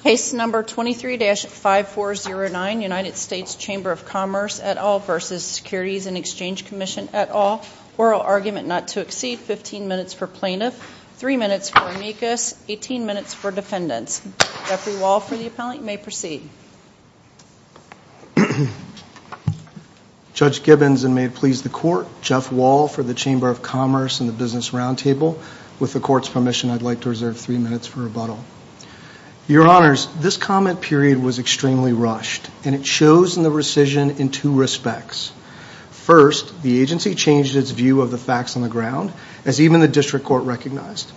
Case No. 23-5409 United States Chamber of Commerce v. Securities and Exchange Commission et al. Oral Argument Not to Exceed, 15 minutes for plaintiff, 3 minutes for amicus, 18 minutes for defendants. Judge Gibbons and may it please the Court, Jeff Wall for the Chamber of Commerce and the Business Roundtable. With the Court's permission, I'd like to reserve 3 minutes for rebuttal. Your Honors, this comment period was extremely rushed, and it shows in the rescission in two respects. First, the agency changed its view of the facts on the ground, as even the District Court recognized.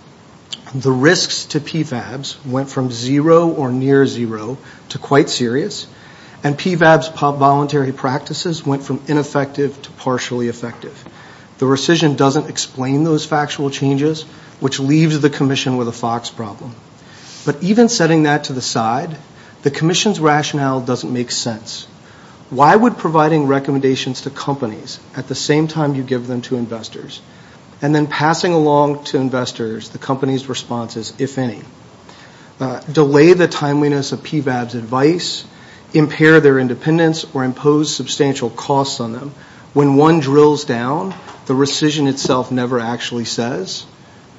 The risks to PFABs went from zero or near zero to quite serious, and PFABs' voluntary practices went from ineffective to partially effective. The rescission doesn't explain those factual changes, which leaves the Commission with a Fox problem. But even setting that to the side, the Commission's rationale doesn't make sense. Why would providing recommendations to companies at the same time you give them to investors, and then passing along to investors the company's responses, if any, delay the timeliness of PFABs' advice, impair their independence, or impose substantial costs on them, when one drills down? The rescission itself never actually says.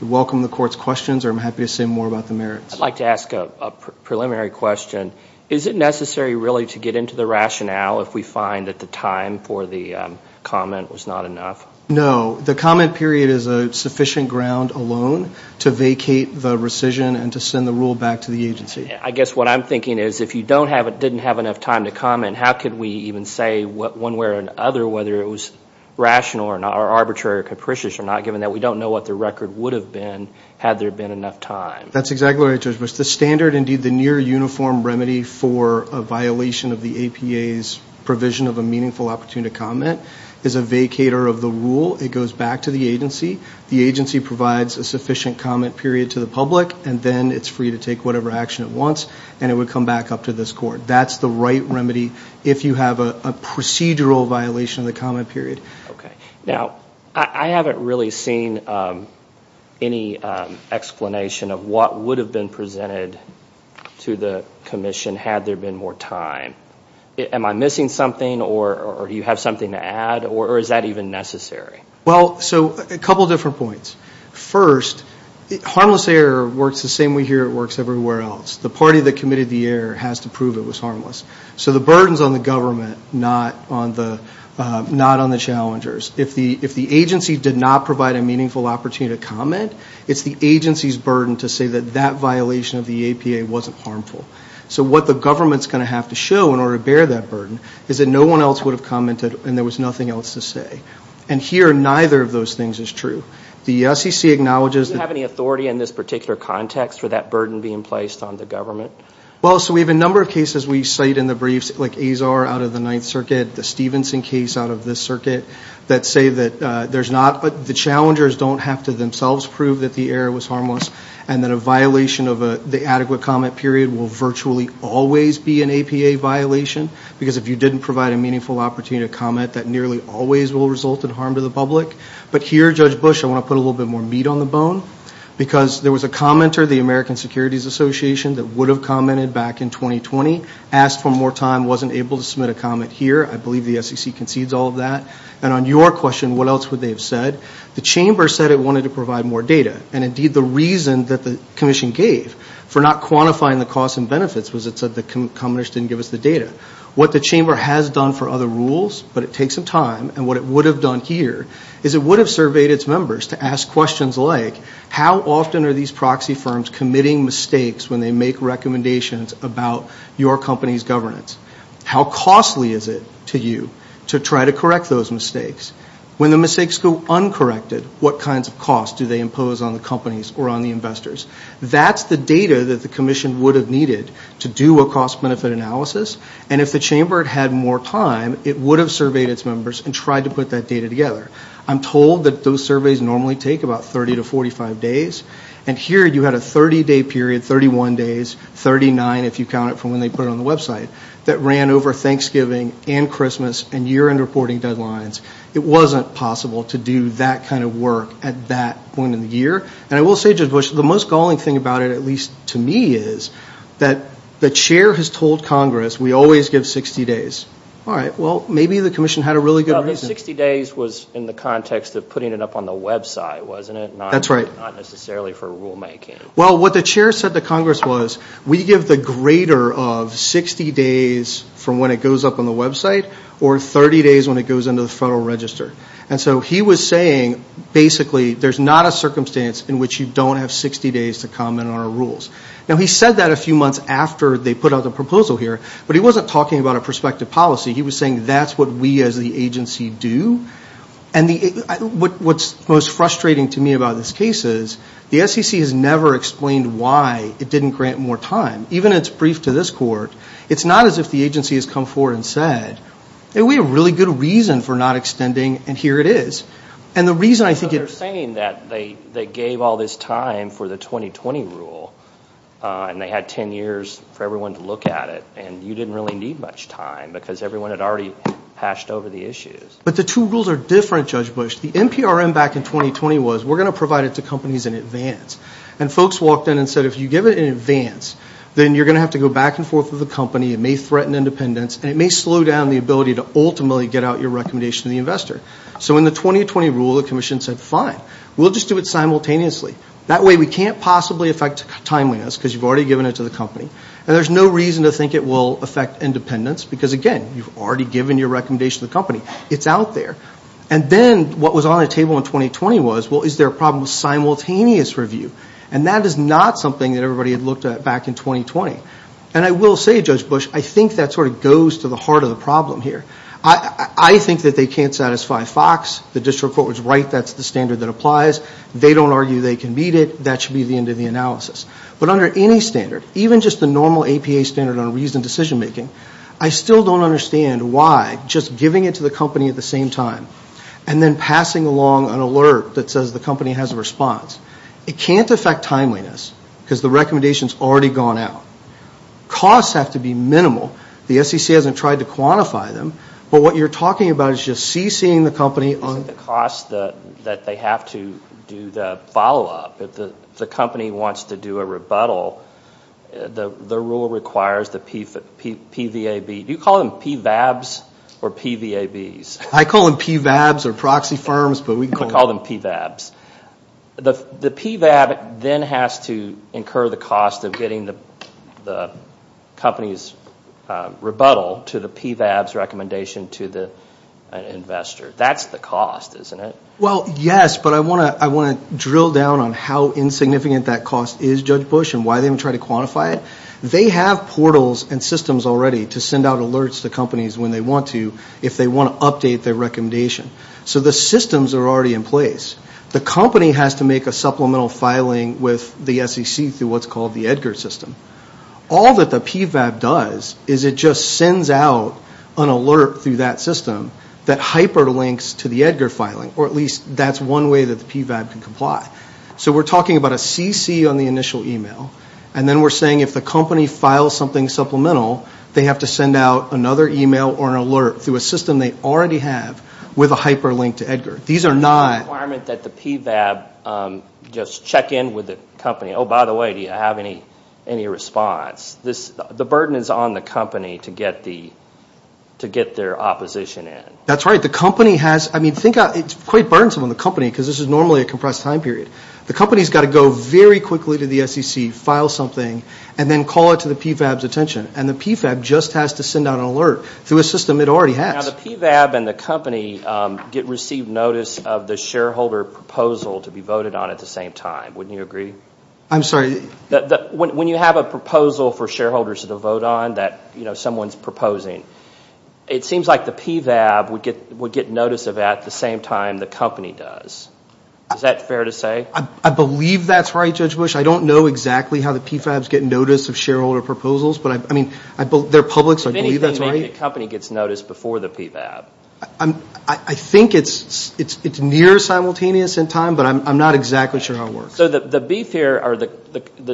I welcome the Court's questions, or I'm happy to say more about the merits. I'd like to ask a preliminary question. Is it necessary really to get into the rationale if we find that the time for the comment was not enough? No. The comment period is a sufficient ground alone to vacate the rescission and to send the rule back to the agency. I guess what I'm thinking is, if you didn't have enough time to comment, how could we even say one way or another whether it was rational or not, or arbitrary or capricious or not, given that we don't know what the record would have been had there been enough time? That's exactly right, Judge Bush. The standard, indeed, the near uniform remedy for a violation of the APA's provision of a meaningful opportunity to comment is a vacator of the rule. It goes back to the agency. The agency provides a sufficient comment period to the public, and then it's free to take whatever action it wants, and it would come back up to this Court. That's the right remedy if you have a procedural violation of the comment period. Now, I haven't really seen any explanation of what would have been presented to the Commission had there been more time. Am I missing something, or do you have something to add, or is that even necessary? Well, so a couple different points. First, harmless error works the same way here it works everywhere else. The party that committed the error has to prove it was harmless. So the burden's on the government, not on the challengers. If the agency did not provide a meaningful opportunity to comment, it's the agency's burden to say that that violation of the APA wasn't harmful. So what the government's going to have to show in order to bear that burden is that no one else would have commented and there was nothing else to say. And here, neither of those things is true. The SEC acknowledges that... Well, so we have a number of cases we cite in the briefs, like Azar out of the Ninth Circuit, the Stevenson case out of this circuit, that say that there's not... The challengers don't have to themselves prove that the error was harmless and that a violation of the adequate comment period will virtually always be an APA violation, because if you didn't provide a meaningful opportunity to comment, that nearly always will result in harm to the public. But here, Judge Bush, I want to put a little bit more meat on the bone, because there was a commenter, the American Securities Association, that would have commented back in 2020, asked for more time, wasn't able to submit a comment here. I believe the SEC concedes all of that. And on your question, what else would they have said, the Chamber said it wanted to provide more data. And indeed, the reason that the Commission gave for not quantifying the costs and benefits was it said the commenters didn't give us the data. What the Chamber has done for other rules, but it takes some time, and what it would have done here is it would have surveyed its members to ask questions like, how often are these proxy firms committing mistakes when they make recommendations about your company's governance? How costly is it to you to try to correct those mistakes? When the mistakes go uncorrected, what kinds of costs do they impose on the companies or on the investors? That's the data that the Commission would have needed to do a cost-benefit analysis, and if the Chamber had had more time, it would have surveyed its members and tried to put that data together. I'm told that those surveys normally take about 30 to 45 days, and here you had a 30-day period, 31 days, 39 if you count it from when they put it on the website, that ran over Thanksgiving and Christmas and year-end reporting deadlines. It wasn't possible to do that kind of work at that point in the year, and I will say, Judge Bush, the most galling thing about it, at least to me, is that the Chair has told Congress we always give 60 days. All right, well, maybe the Commission had a really good reason. But 60 days was in the context of putting it up on the website, wasn't it? That's right. Not necessarily for rulemaking. Well, what the Chair said to Congress was, we give the greater of 60 days from when it goes up on the website, or 30 days when it goes into the Federal Register. And so he was saying, basically, there's not a circumstance in which you don't have 60 days to comment on our rules. Now he said that a few months after they put out the proposal here, but he wasn't talking about a prospective policy. He was saying, that's what we as the agency do. And what's most frustrating to me about this case is, the SEC has never explained why it didn't grant more time. Even its brief to this Court, it's not as if the agency has come forward and said, we have a really good reason for not extending, and here it is. And the reason I think it... They're saying that they gave all this time for the 2020 rule, and they had 10 years for everyone to look at it, and you didn't really need much time, because everyone had already hashed over the issues. But the two rules are different, Judge Bush. The NPRM back in 2020 was, we're going to provide it to companies in advance. And folks walked in and said, if you give it in advance, then you're going to have to go back and forth with the company, it may threaten independence, and it may slow down the ability to ultimately get out your recommendation to the investor. So in the 2020 rule, the Commission said, fine, we'll just do it simultaneously. That way we can't possibly affect timeliness, because you've already given it to the company. And there's no reason to think it will affect independence, because again, you've already given your recommendation to the company. It's out there. And then what was on the table in 2020 was, well, is there a problem with simultaneous review? And that is not something that everybody had looked at back in 2020. And I will say, Judge Bush, I think that sort of goes to the heart of the problem here. I think that they can't satisfy Fox. The district court was right, that's the standard that applies. They don't argue they can meet it. That should be the end of the analysis. But under any standard, even just the normal APA standard on reasoned decision-making, I still don't understand why just giving it to the company at the same time and then passing along an alert that says the company has a response. It can't affect timeliness, because the recommendation's already gone out. Costs have to be minimal. The SEC hasn't tried to quantify them. But what you're talking about is just CCing the company on the cost that they have to do the follow-up. If the company wants to do a rebuttal, the rule requires the PVAB. Do you call them PVABs or PVABs? I call them PVABs or proxy firms, but we can call them PVABs. The PVAB then has to incur the cost of getting the company's rebuttal to the PVAB's recommendation to the investor. That's the cost, isn't it? Well, yes, but I want to drill down on how insignificant that cost is, Judge Bush, and why they haven't tried to quantify it. They have portals and systems already to send out alerts to companies when they want to if they want to update their recommendation. So the systems are already in place. The company has to make a supplemental filing with the SEC through what's called the Edgar system. All that the PVAB does is it just sends out an alert through that system that hyperlinks to the Edgar filing, or at least that's one way that the PVAB can comply. So we're talking about a CC on the initial email, and then we're saying if the company files something supplemental, they have to send out another email or an alert through a system they already have with a hyperlink to Edgar. These are not... Requirement that the PVAB just check in with the company. Oh, by the way, do you have any response? The burden is on the company to get their opposition in. That's right. The company has... I mean, it's quite burdensome on the company because this is normally a compressed time period. The company's got to go very quickly to the SEC, file something, and then call it to the PVAB's attention. And the PVAB just has to send out an alert through a system it already has. Now, the PVAB and the company get received notice of the shareholder proposal to be voted on at the same time. Wouldn't you agree? I'm sorry? When you have a proposal for shareholders to vote on that someone's proposing, it seems like the PVAB would get notice of that at the same time the company does. Is that fair to say? I believe that's right, Judge Bush. I don't know exactly how the PVABs get notice of shareholder proposals, but I mean, they're public, so I believe that's right. If anything, maybe the company gets notice before the PVAB. I think it's near simultaneous in time, but I'm not exactly sure how it works. So the beef here, or the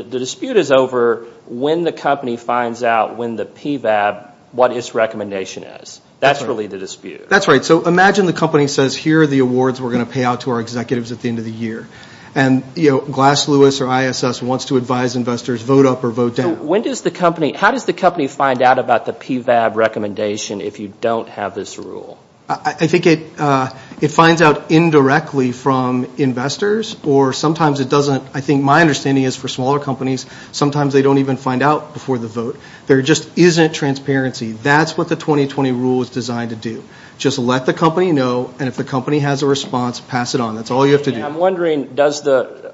dispute is over when the company finds out when the PVAB, what its recommendation is. That's really the dispute. That's right. So imagine the company says, here are the awards we're going to pay out to our executives at the end of the year. And, you know, Glass Lewis or ISS wants to advise investors, vote up or vote down. When does the company, how does the company find out about the PVAB recommendation if you don't have this rule? I think it finds out indirectly from investors, or sometimes it doesn't. I think my understanding is for smaller companies, sometimes they don't even find out before the vote. There just isn't transparency. That's what the 2020 rule is designed to do. Just let the company know, and if the company has a response, pass it on. That's all you have to do. I'm wondering, does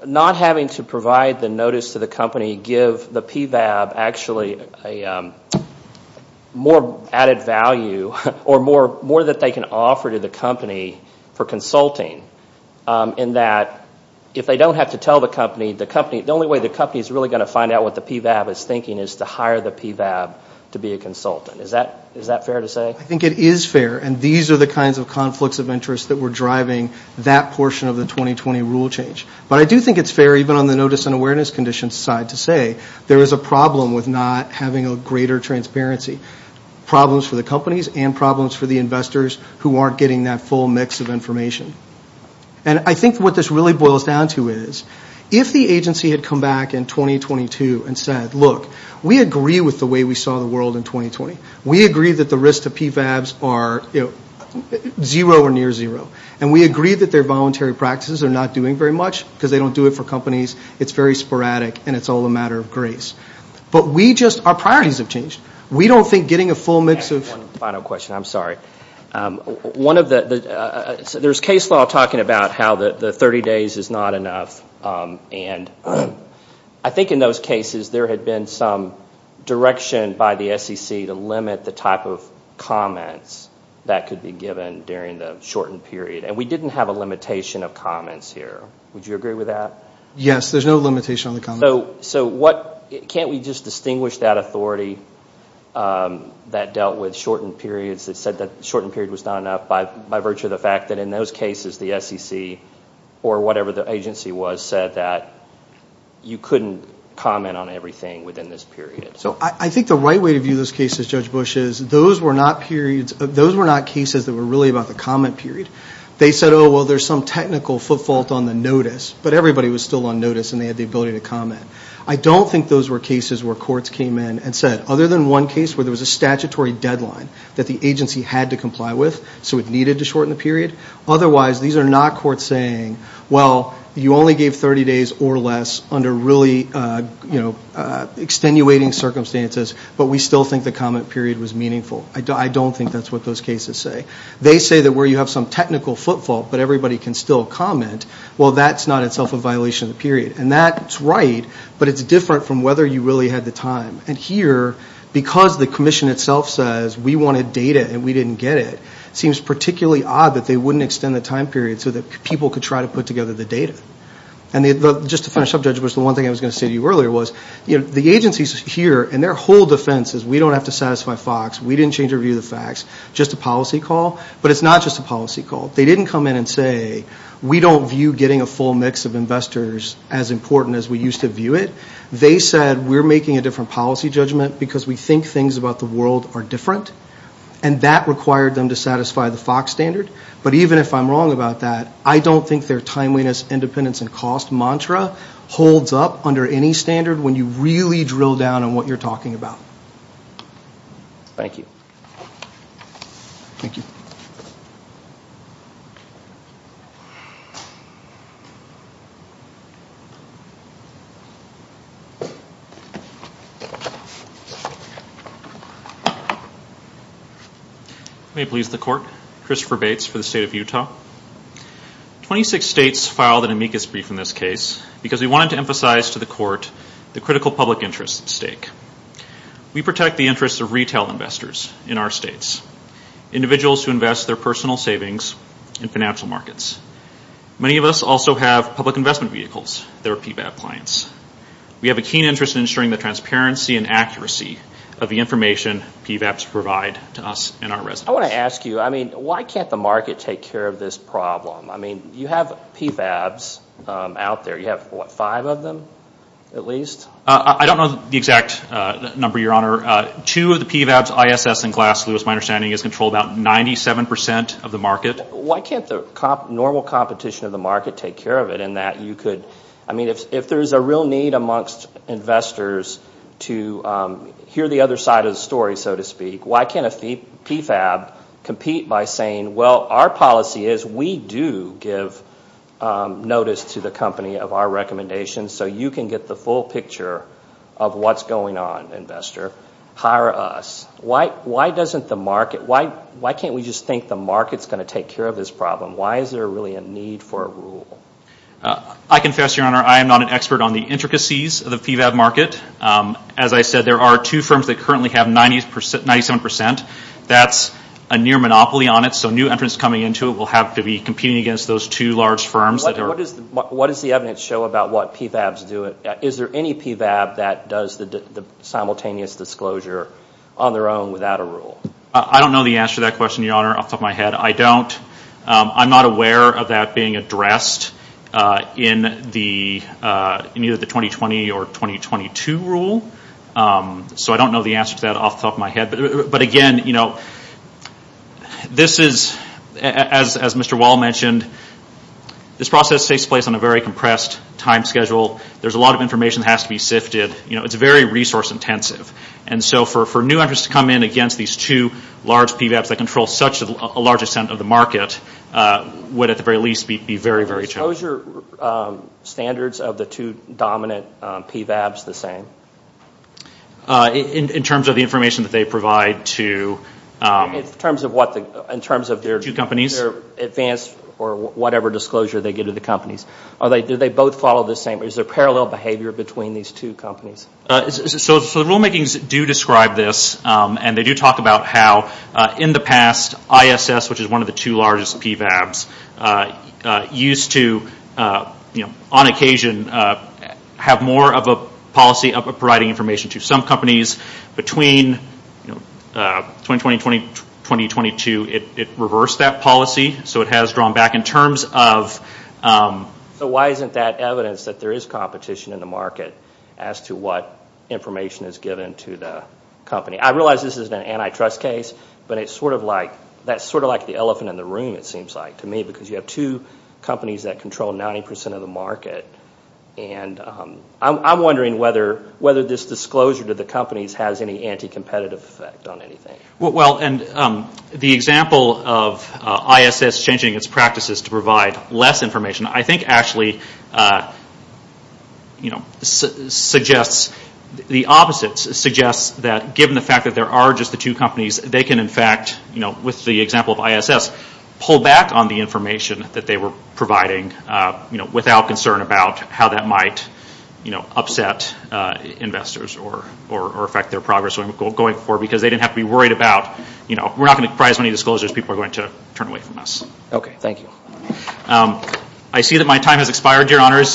not having to provide the notice to the company give the PVAB actually a more added value, or more that they can offer to the company for consulting, in that if they don't have to tell the company, the only way the company is really going to find out what the PVAB is thinking is to hire the PVAB to be a consultant. Is that fair to say? I think it is fair, and these are the kinds of conflicts of interest that were driving that portion of the 2020 rule change. But I do think it's fair, even on the notice and awareness condition side, to say there is a problem with not having a greater transparency. Problems for the companies and problems for the investors who aren't getting that full mix of information. And I think what this really boils down to is, if the agency had come back in 2022 and said, look, we agree with the way we saw the world in 2020. We agree that the risk to PVABs are zero or near zero. And we agree that their voluntary practices are not doing very much, because they don't do it for companies. It's very sporadic, and it's all a matter of grace. But we just, our priorities have changed. We don't think getting a full mix of. One final question. I'm sorry. One of the, there's case law talking about how the 30 days is not enough. And I think in those cases, there had been some direction by the SEC to limit the type of comments that could be given during the shortened period. And we didn't have a limitation of comments here. Would you agree with that? Yes, there's no limitation on the comments. So what, can't we just distinguish that authority that dealt with shortened periods that said that the shortened period was not enough by virtue of the fact that in those cases, the SEC or whatever the agency was, said that you couldn't comment on everything within this period. So I think the right way to view those cases, Judge Bush, is those were not periods, those were not cases that were really about the comment period. They said, oh, well, there's some technical footfault on the notice. But everybody was still on notice and they had the ability to comment. I don't think those were cases where courts came in and said, other than one case where there was a statutory deadline that the agency had to comply with, so it needed to shorten the period. Otherwise, these are not courts saying, well, you only gave 30 days or less under really, you know, extenuating circumstances, but we still think the comment period was meaningful. I don't think that's what those cases say. They say that where you have some technical footfault, but everybody can still comment, well, that's not itself a violation of the period. And that's right, but it's different from whether you really had the time. And here, because the commission itself says we wanted data and we didn't get it, it seems particularly odd that they wouldn't extend the time period so that people could try to put together the data. And just to finish up, Judge Bush, the one thing I was going to say to you earlier was, you know, the agencies here and their whole defense is we don't have to satisfy FOX, we didn't change our view of the facts, just a policy call. But it's not just a policy call. They didn't come in and say, we don't view getting a full mix of investors as important as we used to view it. They said, we're making a different policy judgment because we think things about the world are different, and that required them to satisfy the FOX standard. But even if I'm wrong about that, I don't think their timeliness, independence, and cost mantra holds up under any standard when you really drill down on what you're talking about. Thank you. Thank you. May it please the court, Christopher Bates for the State of Utah. Twenty-six states filed an amicus brief in this case because we wanted to emphasize to the court the critical public interest at stake. We protect the interests of retail investors in our states, individuals who invest their personal savings in financial markets. Many of us also have public investment vehicles that are PVAP clients. We have a keen interest in ensuring the transparency and accuracy of the information PVAPs provide to us and our residents. I want to ask you, I mean, why can't the market take care of this problem? I mean, you have PVAPs out there. You have, what, five of them at least? I don't know the exact number, Your Honor. Two of the PVAPs, ISS and Glass-Lewis, my understanding is controlled about 97% of the market. Why can't the normal competition of the market take care of it in that you could, I mean, if there's a real need amongst investors to hear the other side of the story, so to speak, why can't a PVAP compete by saying, well, our policy is we do give notice to the company of our recommendations so you can get the full picture of what's going on, investor. Hire us. Why can't we just think the market's going to take care of this problem? Why is there really a need for a rule? I confess, Your Honor, I am not an expert on the intricacies of the PVAP market. As I said, there are two firms that currently have 97%. That's a near monopoly on it. So new entrants coming into it will have to be competing against those two large firms. What does the evidence show about what PVAPs do? Is there any PVAP that does the simultaneous disclosure on their own without a rule? I don't know the answer to that question, Your Honor, off the top of my head. I don't. I'm not aware of that being addressed in either the 2020 or 2022 rule. So I don't know the answer to that off the top of my head. But, again, you know, this is, as Mr. Wall mentioned, this process takes place on a very compressed time schedule. There's a lot of information that has to be sifted. You know, it's very resource intensive. And so for new entrants to come in against these two large PVAPs that control such a large extent of the market would, at the very least, be very, very challenging. Are the disclosure standards of the two dominant PVAPs the same? In terms of the information that they provide to two companies? In terms of their advanced or whatever disclosure they give to the companies. Do they both follow the same? Is there parallel behavior between these two companies? So the rulemakings do describe this. And they do talk about how, in the past, ISS, which is one of the two largest PVAPs, used to, on occasion, have more of a policy of providing information to some companies. Between 2020 and 2022, it reversed that policy. So it has drawn back in terms of... So why isn't that evidence that there is competition in the market as to what information is given to the company? I realize this is an antitrust case, but that's sort of like the elephant in the room, it seems like to me, because you have two companies that control 90% of the market. And I'm wondering whether this disclosure to the companies has any anticompetitive effect on anything. Well, and the example of ISS changing its practices to provide less information, I think actually suggests... the opposite suggests that, given the fact that there are just the two companies, they can, in fact, with the example of ISS, pull back on the information that they were providing, without concern about how that might upset investors or affect their progress going forward, because they didn't have to be worried about, we're not going to provide as many disclosures as people are going to turn away from us. Okay, thank you. I see that my time has expired, Your Honors.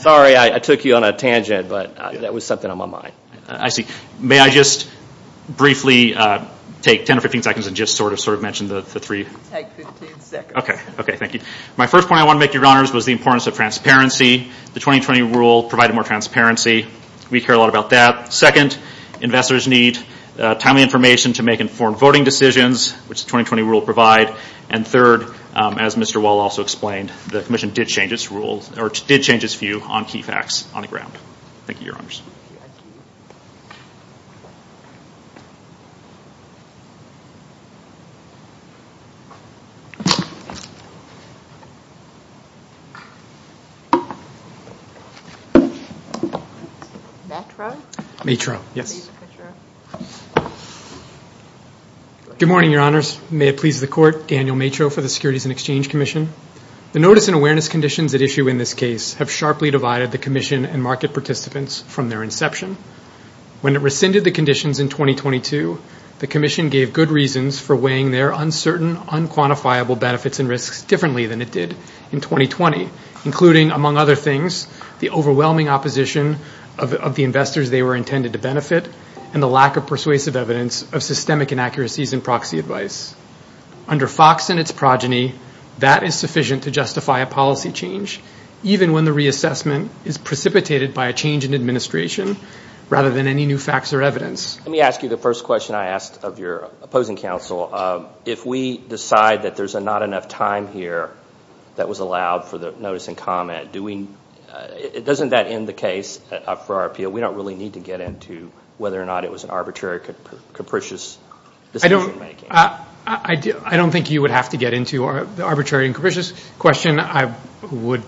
Sorry, I took you on a tangent, but that was something on my mind. I see. May I just briefly take 10 or 15 seconds and just sort of mention the three... Take 15 seconds. Okay, thank you. My first point I want to make, Your Honors, was the importance of transparency. The 2020 rule provided more transparency. We care a lot about that. Second, investors need timely information to make informed voting decisions, which the 2020 rule will provide. And third, as Mr. Wall also explained, the Commission did change its view on key facts on the ground. Thank you, Your Honors. Matra? Matra, yes. Good morning, Your Honors. May it please the Court, Daniel Matra for the Securities and Exchange Commission. The notice and awareness conditions at issue in this case have sharply divided the Commission and market participants from their inception. When it rescinded the conditions in 2022, the Commission gave good reasons for weighing their uncertain, unquantifiable benefits and risks differently than it did in 2020, including, among other things, the overwhelming opposition of the investors they were intended to benefit and the lack of persuasive evidence of systemic inaccuracies in proxy advice. Under Fox and its progeny, that is sufficient to justify a policy change, even when the reassessment is precipitated by a change in administration rather than any new facts or evidence. Let me ask you the first question I asked of your opposing counsel. If we decide that there's not enough time here that was allowed for the notice and comment, doesn't that end the case for our appeal? We don't really need to get into whether or not it was an arbitrary, capricious decision making. I don't think you would have to get into the arbitrary and capricious question. I would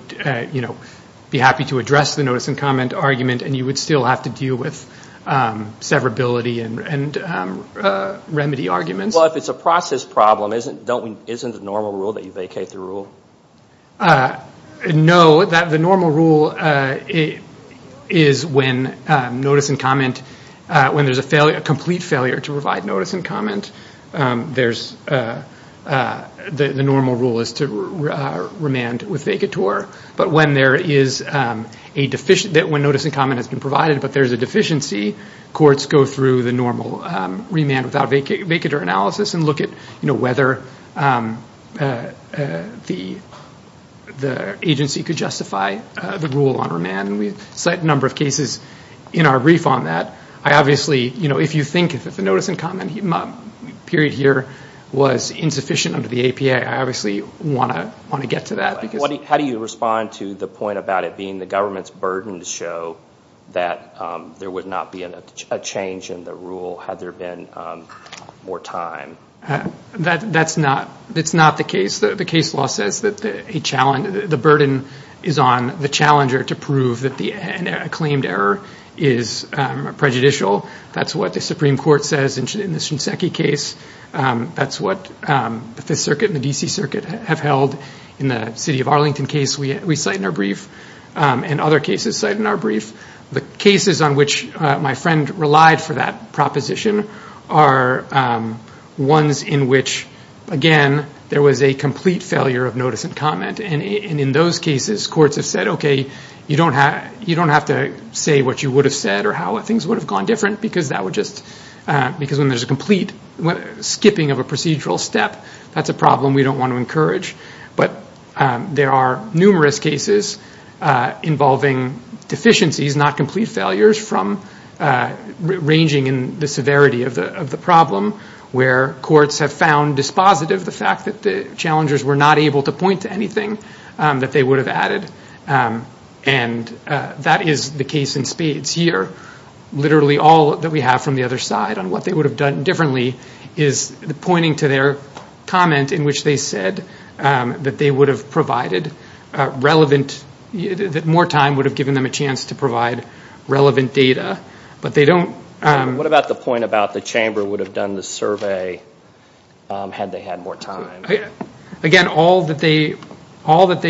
be happy to address the notice and comment argument, and you would still have to deal with severability and remedy arguments. Well, if it's a process problem, isn't the normal rule that you vacate the rule? No, the normal rule is when notice and comment, when there's a complete failure to provide notice and comment, the normal rule is to remand with vacateur. But when notice and comment has been provided but there's a deficiency, courts go through the normal remand without vacateur analysis and look at whether the agency could justify the rule on remand. We cite a number of cases in our brief on that. If you think that the notice and comment period here was insufficient under the APA, I obviously want to get to that. How do you respond to the point about it being the government's burden to show that there would not be a change in the rule had there been more time? That's not the case. The case law says that the burden is on the challenger to prove that a claimed error is prejudicial. That's what the Supreme Court says in the Shinseki case. That's what the Fifth Circuit and the D.C. Circuit have held. In the city of Arlington case we cite in our brief and other cases cite in our brief. The cases on which my friend relied for that proposition are ones in which, again, there was a complete failure of notice and comment. In those cases courts have said, okay, you don't have to say what you would have said or how things would have gone different because when there's a complete skipping of a procedural step, that's a problem we don't want to encourage. But there are numerous cases involving deficiencies, not complete failures, ranging in the severity of the problem where courts have found dispositive the fact that the challengers were not able to point to anything that they would have added. And that is the case in spades here. Literally all that we have from the other side on what they would have done differently is pointing to their comment in which they said that they would have provided relevant, that more time would have given them a chance to provide relevant data, but they don't. What about the point about the chamber would have done the survey had they had more time? Again, all that they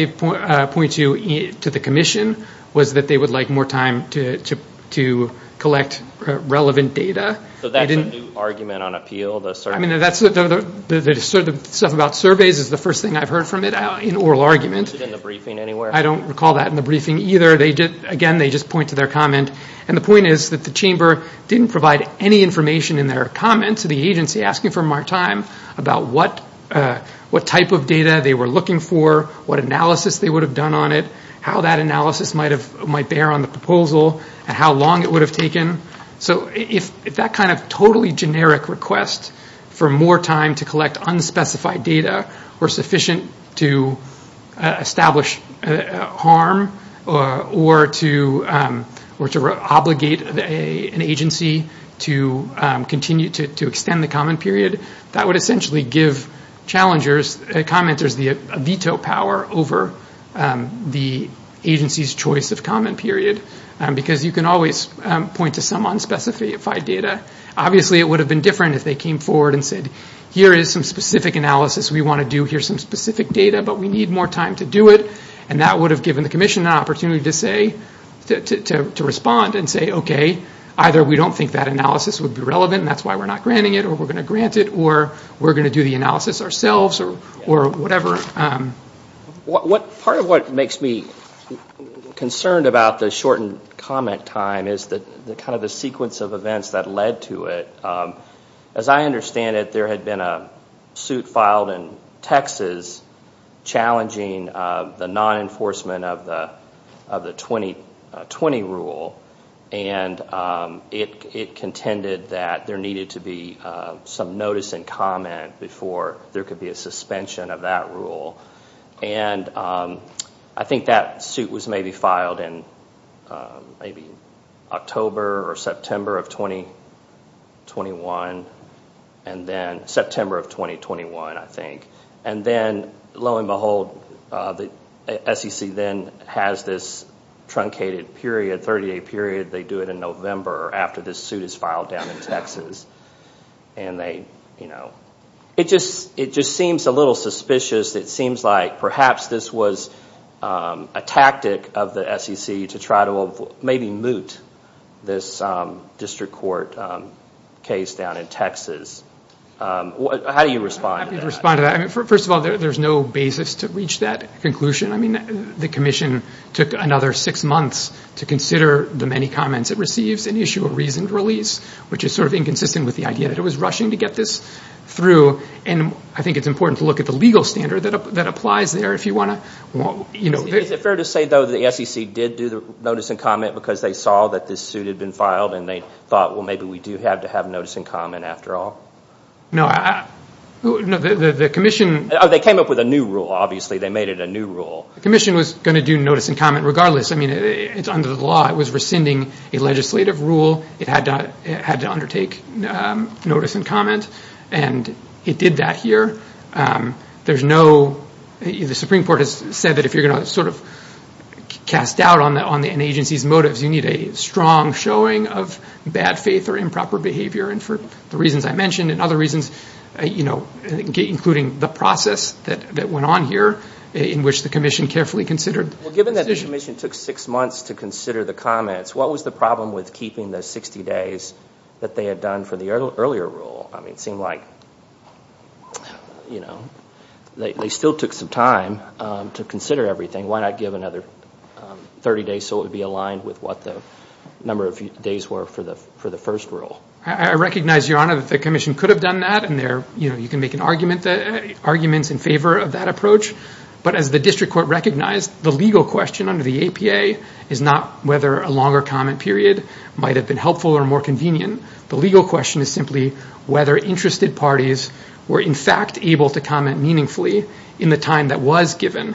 point to to the commission was that they would like more time to collect relevant data. So that's a new argument on appeal? The stuff about surveys is the first thing I've heard from it in oral argument. Is it in the briefing anywhere? I don't recall that in the briefing either. Again, they just point to their comment. And the point is that the chamber didn't provide any information in their comment to the agency asking for more time about what type of data they were looking for, what analysis they would have done on it, how that analysis might bear on the proposal, and how long it would have taken. So if that kind of totally generic request for more time to collect unspecified data were sufficient to establish harm or to obligate an agency to continue to extend the comment period, that would essentially give commenters the veto power over the agency's choice of comment period because you can always point to some unspecified data. Obviously, it would have been different if they came forward and said, here is some specific analysis we want to do, here's some specific data, but we need more time to do it. And that would have given the commission an opportunity to respond and say, okay, either we don't think that analysis would be relevant and that's why we're not granting it or we're going to grant it or we're going to do the analysis ourselves or whatever. Part of what makes me concerned about the shortened comment time is kind of the sequence of events that led to it. As I understand it, there had been a suit filed in Texas challenging the non-enforcement of the 2020 rule, and it contended that there needed to be some notice and comment before there could be a suspension of that rule. And I think that suit was maybe filed in maybe October or September of 2021, and then September of 2021, I think. And then, lo and behold, the SEC then has this truncated period, 30-day period. They do it in November after this suit is filed down in Texas. It just seems a little suspicious. It seems like perhaps this was a tactic of the SEC to try to maybe moot this district court case down in Texas. How do you respond to that? First of all, there's no basis to reach that conclusion. The commission took another six months to consider the many comments it receives and issue a reasoned release, which is sort of inconsistent with the idea that it was rushing to get this through. And I think it's important to look at the legal standard that applies there if you want to. Is it fair to say, though, that the SEC did do the notice and comment because they saw that this suit had been filed and they thought, well, maybe we do have to have notice and comment after all? No. They came up with a new rule, obviously. They made it a new rule. The commission was going to do notice and comment regardless. I mean, it's under the law. It was rescinding a legislative rule. It had to undertake notice and comment, and it did that here. The Supreme Court has said that if you're going to sort of cast doubt on an agency's motives, you need a strong showing of bad faith or improper behavior. And for the reasons I mentioned and other reasons, including the process that went on here in which the commission carefully considered the decision. If the commission took six months to consider the comments, what was the problem with keeping the 60 days that they had done for the earlier rule? I mean, it seemed like, you know, they still took some time to consider everything. Why not give another 30 days so it would be aligned with what the number of days were for the first rule? I recognize, Your Honor, that the commission could have done that, and you can make arguments in favor of that approach. But as the district court recognized, the legal question under the APA is not whether a longer comment period might have been helpful or more convenient. The legal question is simply whether interested parties were in fact able to comment meaningfully in the time that was given.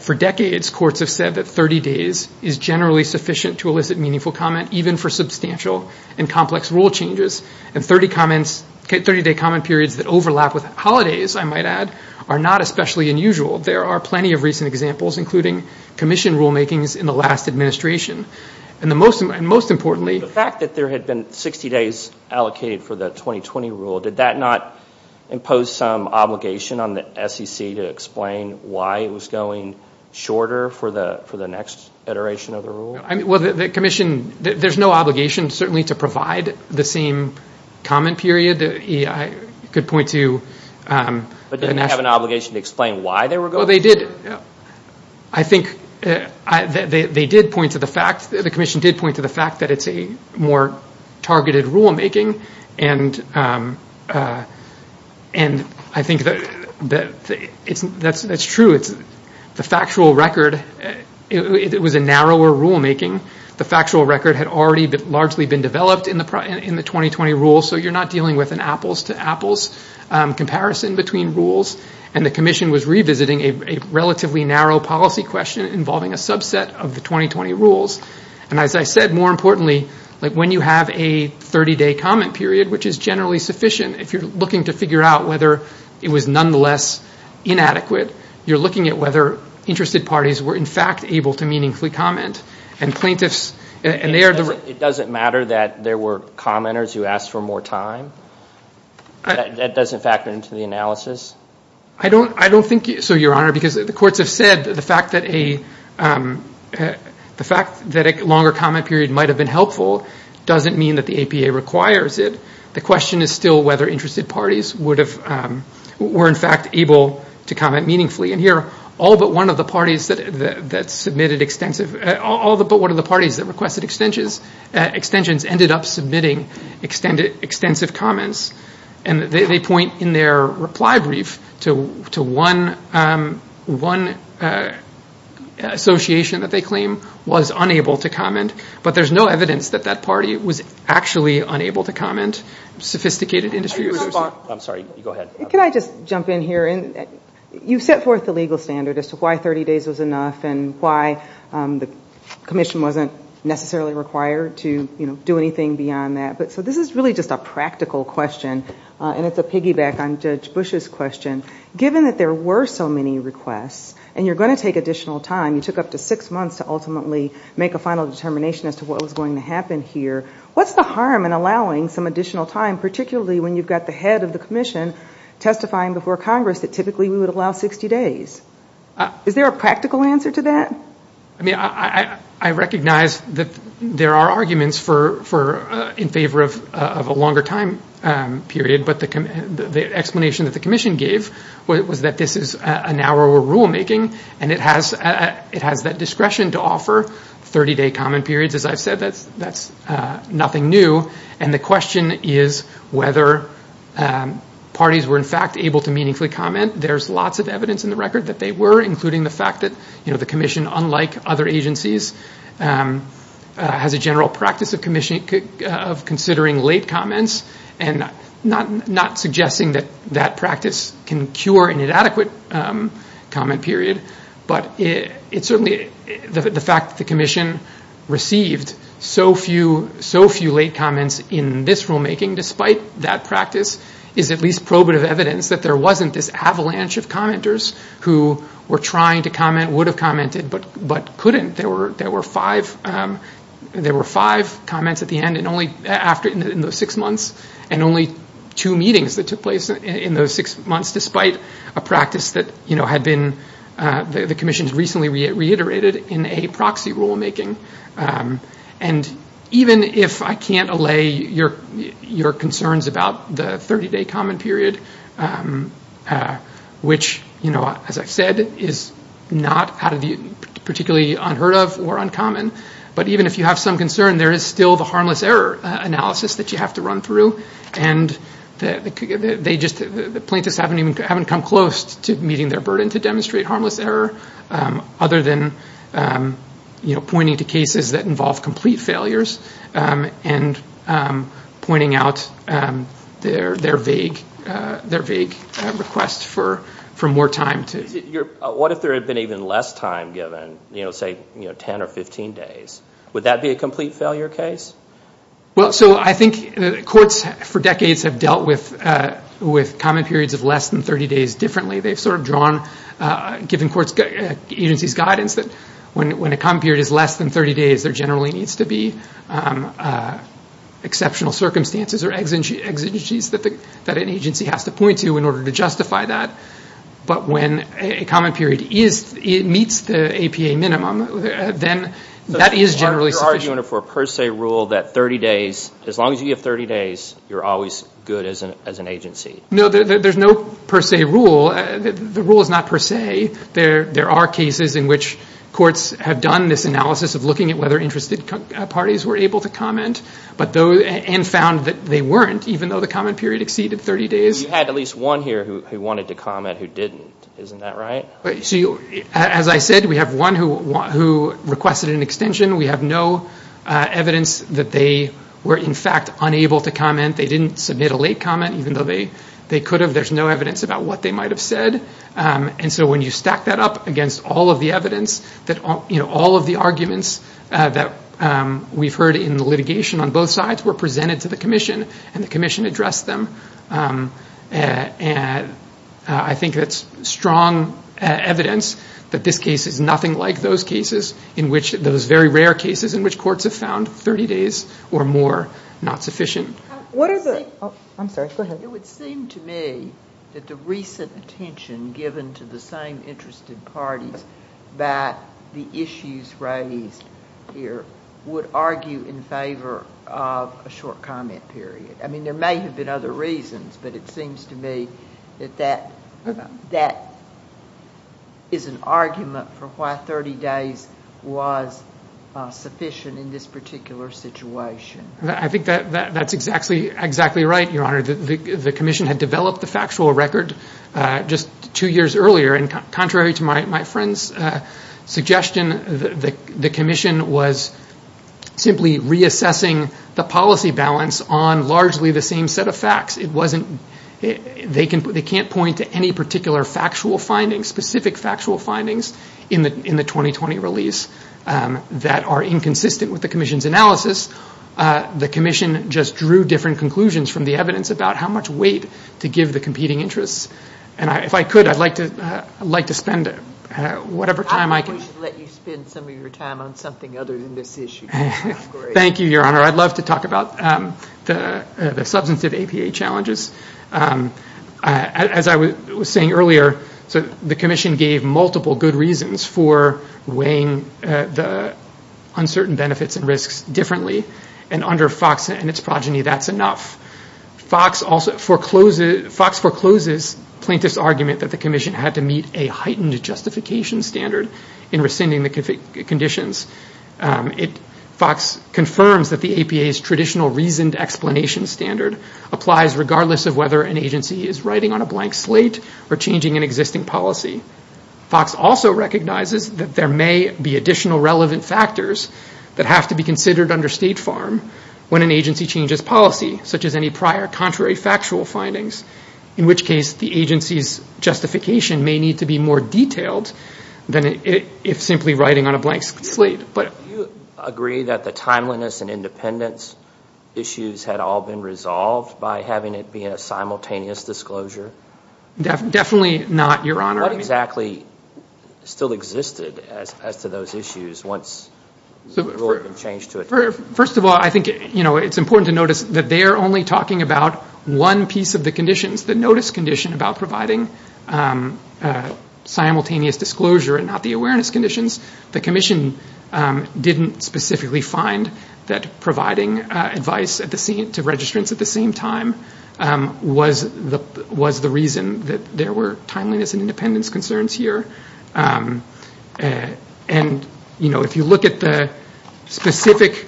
For decades, courts have said that 30 days is generally sufficient to elicit meaningful comment, even for substantial and complex rule changes. And 30-day comment periods that overlap with holidays, I might add, are not especially unusual. There are plenty of recent examples, including commission rulemakings in the last administration. And most importantly- The fact that there had been 60 days allocated for the 2020 rule, did that not impose some obligation on the SEC to explain why it was going shorter for the next iteration of the rule? Well, the commission, there's no obligation certainly to provide the same comment period. I could point to- But didn't it have an obligation to explain why they were going shorter? Well, they did. I think they did point to the fact, the commission did point to the fact, that it's a more targeted rulemaking. And I think that's true. The factual record, it was a narrower rulemaking. The factual record had already largely been developed in the 2020 rule, so you're not dealing with an apples-to-apples comparison between rules. And the commission was revisiting a relatively narrow policy question involving a subset of the 2020 rules. And as I said, more importantly, when you have a 30-day comment period, which is generally sufficient, if you're looking to figure out whether it was nonetheless inadequate, you're looking at whether interested parties were in fact able to meaningfully comment. And plaintiffs- It doesn't matter that there were commenters who asked for more time? That doesn't factor into the analysis? I don't think so, Your Honor, because the courts have said that the fact that a longer comment period might have been helpful doesn't mean that the APA requires it. The question is still whether interested parties were in fact able to comment meaningfully. And here, all but one of the parties that requested extensions ended up submitting extensive comments. And they point in their reply brief to one association that they claim was unable to comment, but there's no evidence that that party was actually unable to comment. I'm sorry, go ahead. Can I just jump in here? You've set forth the legal standard as to why 30 days was enough and why the commission wasn't necessarily required to do anything beyond that. So this is really just a practical question, and it's a piggyback on Judge Bush's question. Given that there were so many requests and you're going to take additional time, you took up to six months to ultimately make a final determination as to what was going to happen here, what's the harm in allowing some additional time, particularly when you've got the head of the commission testifying before Congress that typically we would allow 60 days? Is there a practical answer to that? I mean, I recognize that there are arguments in favor of a longer time period, but the explanation that the commission gave was that this is a narrower rulemaking and it has that discretion to offer 30-day comment periods. As I've said, that's nothing new, and the question is whether parties were in fact able to meaningfully comment. There's lots of evidence in the record that they were, including the fact that the commission, unlike other agencies, has a general practice of considering late comments and not suggesting that that practice can cure an inadequate comment period. But certainly the fact that the commission received so few late comments in this rulemaking, despite that practice, is at least probative evidence that there wasn't this avalanche of commenters who were trying to comment, would have commented, but couldn't. There were five comments at the end in those six months, and only two meetings that took place in those six months, despite a practice that the commission has recently reiterated in a proxy rulemaking. And even if I can't allay your concerns about the 30-day comment period, which, as I've said, is not particularly unheard of or uncommon, but even if you have some concern, there is still the harmless error analysis that you have to run through, and the plaintiffs haven't come close to meeting their burden to demonstrate harmless error, other than pointing to cases that involve complete failures and pointing out their vague request for more time. What if there had been even less time given, say 10 or 15 days? Would that be a complete failure case? I think courts for decades have dealt with comment periods of less than 30 days differently. They've sort of drawn, given agency's guidance, that when a comment period is less than 30 days, there generally needs to be exceptional circumstances or exigencies that an agency has to point to in order to justify that. But when a comment period meets the APA minimum, then that is generally sufficient. So you're arguing for a per se rule that as long as you have 30 days, you're always good as an agency? No, there's no per se rule. The rule is not per se. There are cases in which courts have done this analysis of looking at whether interested parties were able to comment and found that they weren't, even though the comment period exceeded 30 days. You had at least one here who wanted to comment who didn't. Isn't that right? As I said, we have one who requested an extension. We have no evidence that they were in fact unable to comment. They didn't submit a late comment, even though they could have. There's no evidence about what they might have said. And so when you stack that up against all of the evidence, all of the arguments that we've heard in the litigation on both sides were presented to the commission, and the commission addressed them. I think that's strong evidence that this case is nothing like those cases, those very rare cases in which courts have found 30 days or more not sufficient. I'm sorry. Go ahead. It would seem to me that the recent attention given to the same interested parties that the issues raised here would argue in favor of a short comment period. I mean, there may have been other reasons, but it seems to me that that is an argument for why 30 days was sufficient in this particular situation. I think that's exactly right, Your Honor. The commission had developed the factual record just two years earlier, and contrary to my friend's suggestion, the commission was simply reassessing the policy balance on largely the same set of facts. They can't point to any particular factual findings, specific factual findings in the 2020 release that are inconsistent with the commission's analysis. The commission just drew different conclusions from the evidence about how much weight to give the competing interests. And if I could, I'd like to spend whatever time I can. I should let you spend some of your time on something other than this issue. Thank you, Your Honor. I'd love to talk about the substantive APA challenges. As I was saying earlier, the commission gave multiple good reasons for weighing the uncertain benefits and risks differently, and under Fox and its progeny, that's enough. Fox forecloses plaintiff's argument that the commission had to meet a heightened justification standard in rescinding the conditions. Fox confirms that the APA's traditional reasoned explanation standard applies regardless of whether an agency is writing on a blank slate or changing an existing policy. Fox also recognizes that there may be additional relevant factors that have to be considered under State Farm when an agency changes policy, such as any prior contrary factual findings, in which case the agency's justification may need to be more detailed than if simply writing on a blank slate. Do you agree that the timeliness and independence issues had all been resolved by having it be a simultaneous disclosure? Definitely not, Your Honor. What exactly still existed as to those issues once it had all been changed? First of all, I think it's important to notice that they are only talking about one piece of the conditions, the notice condition about providing simultaneous disclosure and not the awareness conditions. The commission didn't specifically find that providing advice to registrants at the same time was the reason that there were timeliness and independence concerns here. If you look at the specific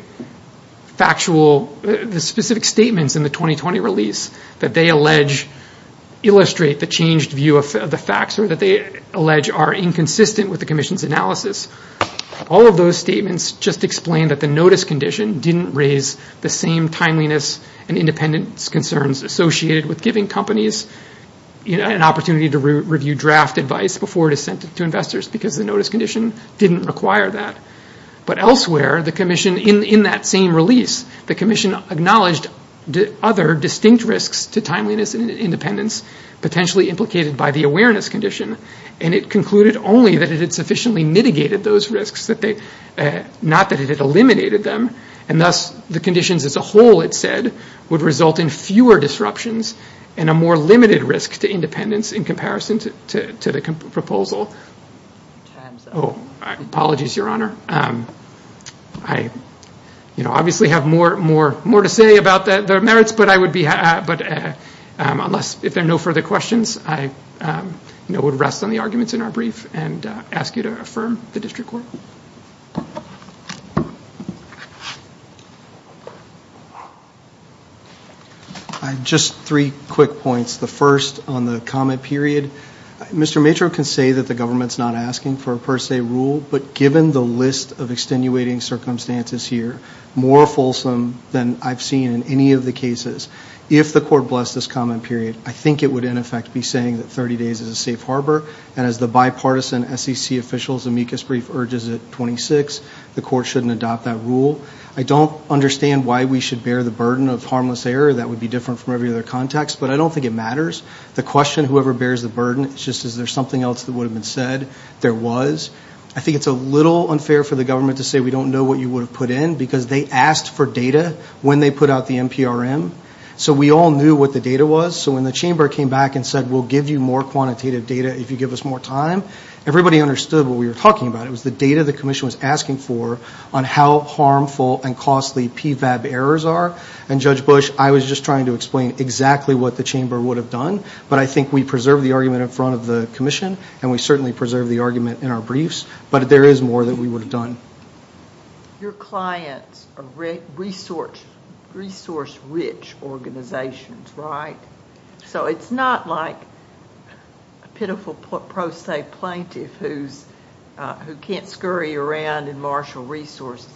statements in the 2020 release that they allege illustrate the changed view of the facts or that they allege are inconsistent with the commission's analysis, all of those statements just explain that the notice condition didn't raise the same timeliness and independence concerns associated with giving companies an opportunity to review draft advice before it is sent to investors because the notice condition didn't require that. But elsewhere, in that same release, the commission acknowledged other distinct risks to timeliness and independence potentially implicated by the awareness condition, and it concluded only that it had sufficiently mitigated those risks, not that it had eliminated them. And thus, the conditions as a whole, it said, would result in fewer disruptions and a more limited risk to independence in comparison to the proposal. Apologies, Your Honor. I obviously have more to say about the merits, but if there are no further questions, I would rest on the arguments in our brief and ask you to affirm the district court. Just three quick points. The first on the comment period, Mr. Matro can say that the government's not asking for a per se rule, but given the list of extenuating circumstances here, more fulsome than I've seen in any of the cases, if the court blessed this comment period, I think it would in effect be saying that 30 days is a safe harbor, and as the bipartisan SEC official's amicus brief urges at 26, the court shouldn't adopt that rule. I don't understand why we should bear the burden of harmless error. That would be different from every other context, but I don't think it matters. The question, whoever bears the burden, it's just is there something else that would have been said? There was. I think it's a little unfair for the government to say we don't know what you would have put in because they asked for data when they put out the NPRM, so we all knew what the data was, so when the chamber came back and said we'll give you more quantitative data if you give us more time, everybody understood what we were talking about. It was the data the commission was asking for on how harmful and costly PVAB errors are, and Judge Bush, I was just trying to explain exactly what the chamber would have done, but I think we preserved the argument in front of the commission, and we certainly preserved the argument in our briefs, but there is more that we would have done. Your clients are resource-rich organizations, right? So it's not like a pitiful pro se plaintiff who can't scurry around and marshal resources.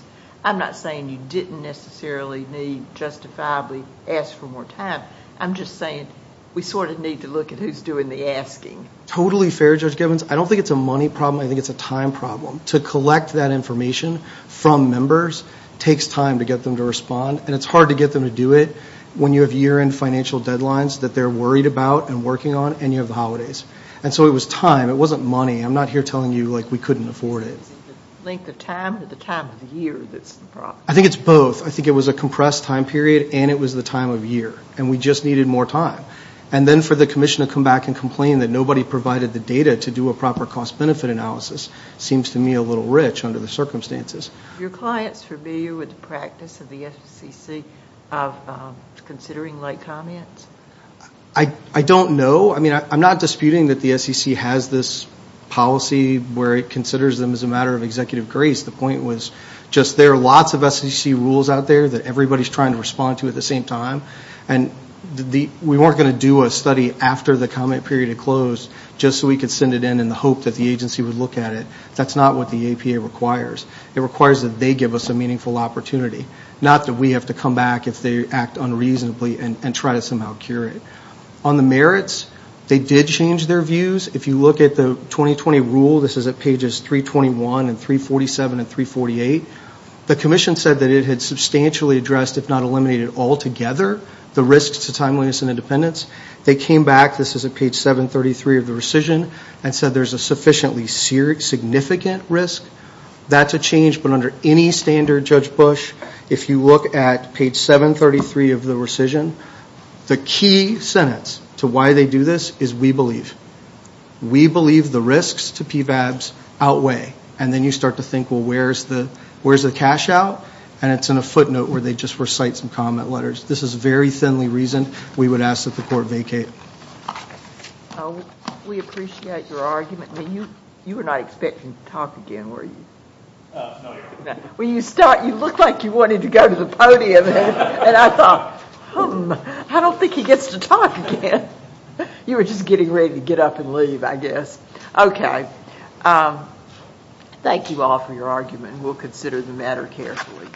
I'm not saying you didn't necessarily need justifiably ask for more time. I'm just saying we sort of need to look at who's doing the asking. Totally fair, Judge Gibbons. I don't think it's a money problem. I think it's a time problem. To collect that information from members takes time to get them to respond, and it's hard to get them to do it when you have year-end financial deadlines that they're worried about and working on, and you have the holidays. And so it was time. It wasn't money. I'm not here telling you, like, we couldn't afford it. Is it the length of time or the time of year that's the problem? I think it's both. I think it was a compressed time period, and it was the time of year, and we just needed more time. And then for the commission to come back and complain that nobody provided the data to do a proper cost-benefit analysis seems to me a little rich under the circumstances. Are your clients familiar with the practice of the SEC of considering late comments? I don't know. I mean, I'm not disputing that the SEC has this policy where it considers them as a matter of executive grace. The point was just there are lots of SEC rules out there that everybody's trying to respond to at the same time, and we weren't going to do a study after the comment period had closed just so we could send it in in the hope that the agency would look at it. That's not what the APA requires. It requires that they give us a meaningful opportunity, not that we have to come back if they act unreasonably and try to somehow cure it. On the merits, they did change their views. If you look at the 2020 rule, this is at pages 321 and 347 and 348, the commission said that it had substantially addressed, if not eliminated altogether, the risks to timeliness and independence. They came back, this is at page 733 of the rescission, and said there's a sufficiently significant risk. That's a change, but under any standard, Judge Bush, if you look at page 733 of the rescission, the key sentence to why they do this is we believe. We believe the risks to PVABs outweigh. Then you start to think, well, where's the cash out? It's in a footnote where they just recite some comment letters. This is very thinly reasoned. We would ask that the court vacate. We appreciate your argument. You were not expecting to talk again, were you? No, Your Honor. Well, you look like you wanted to go to the podium. I thought, hmm, I don't think he gets to talk again. You were just getting ready to get up and leave, I guess. Okay. Thank you all for your argument. We'll consider the matter carefully.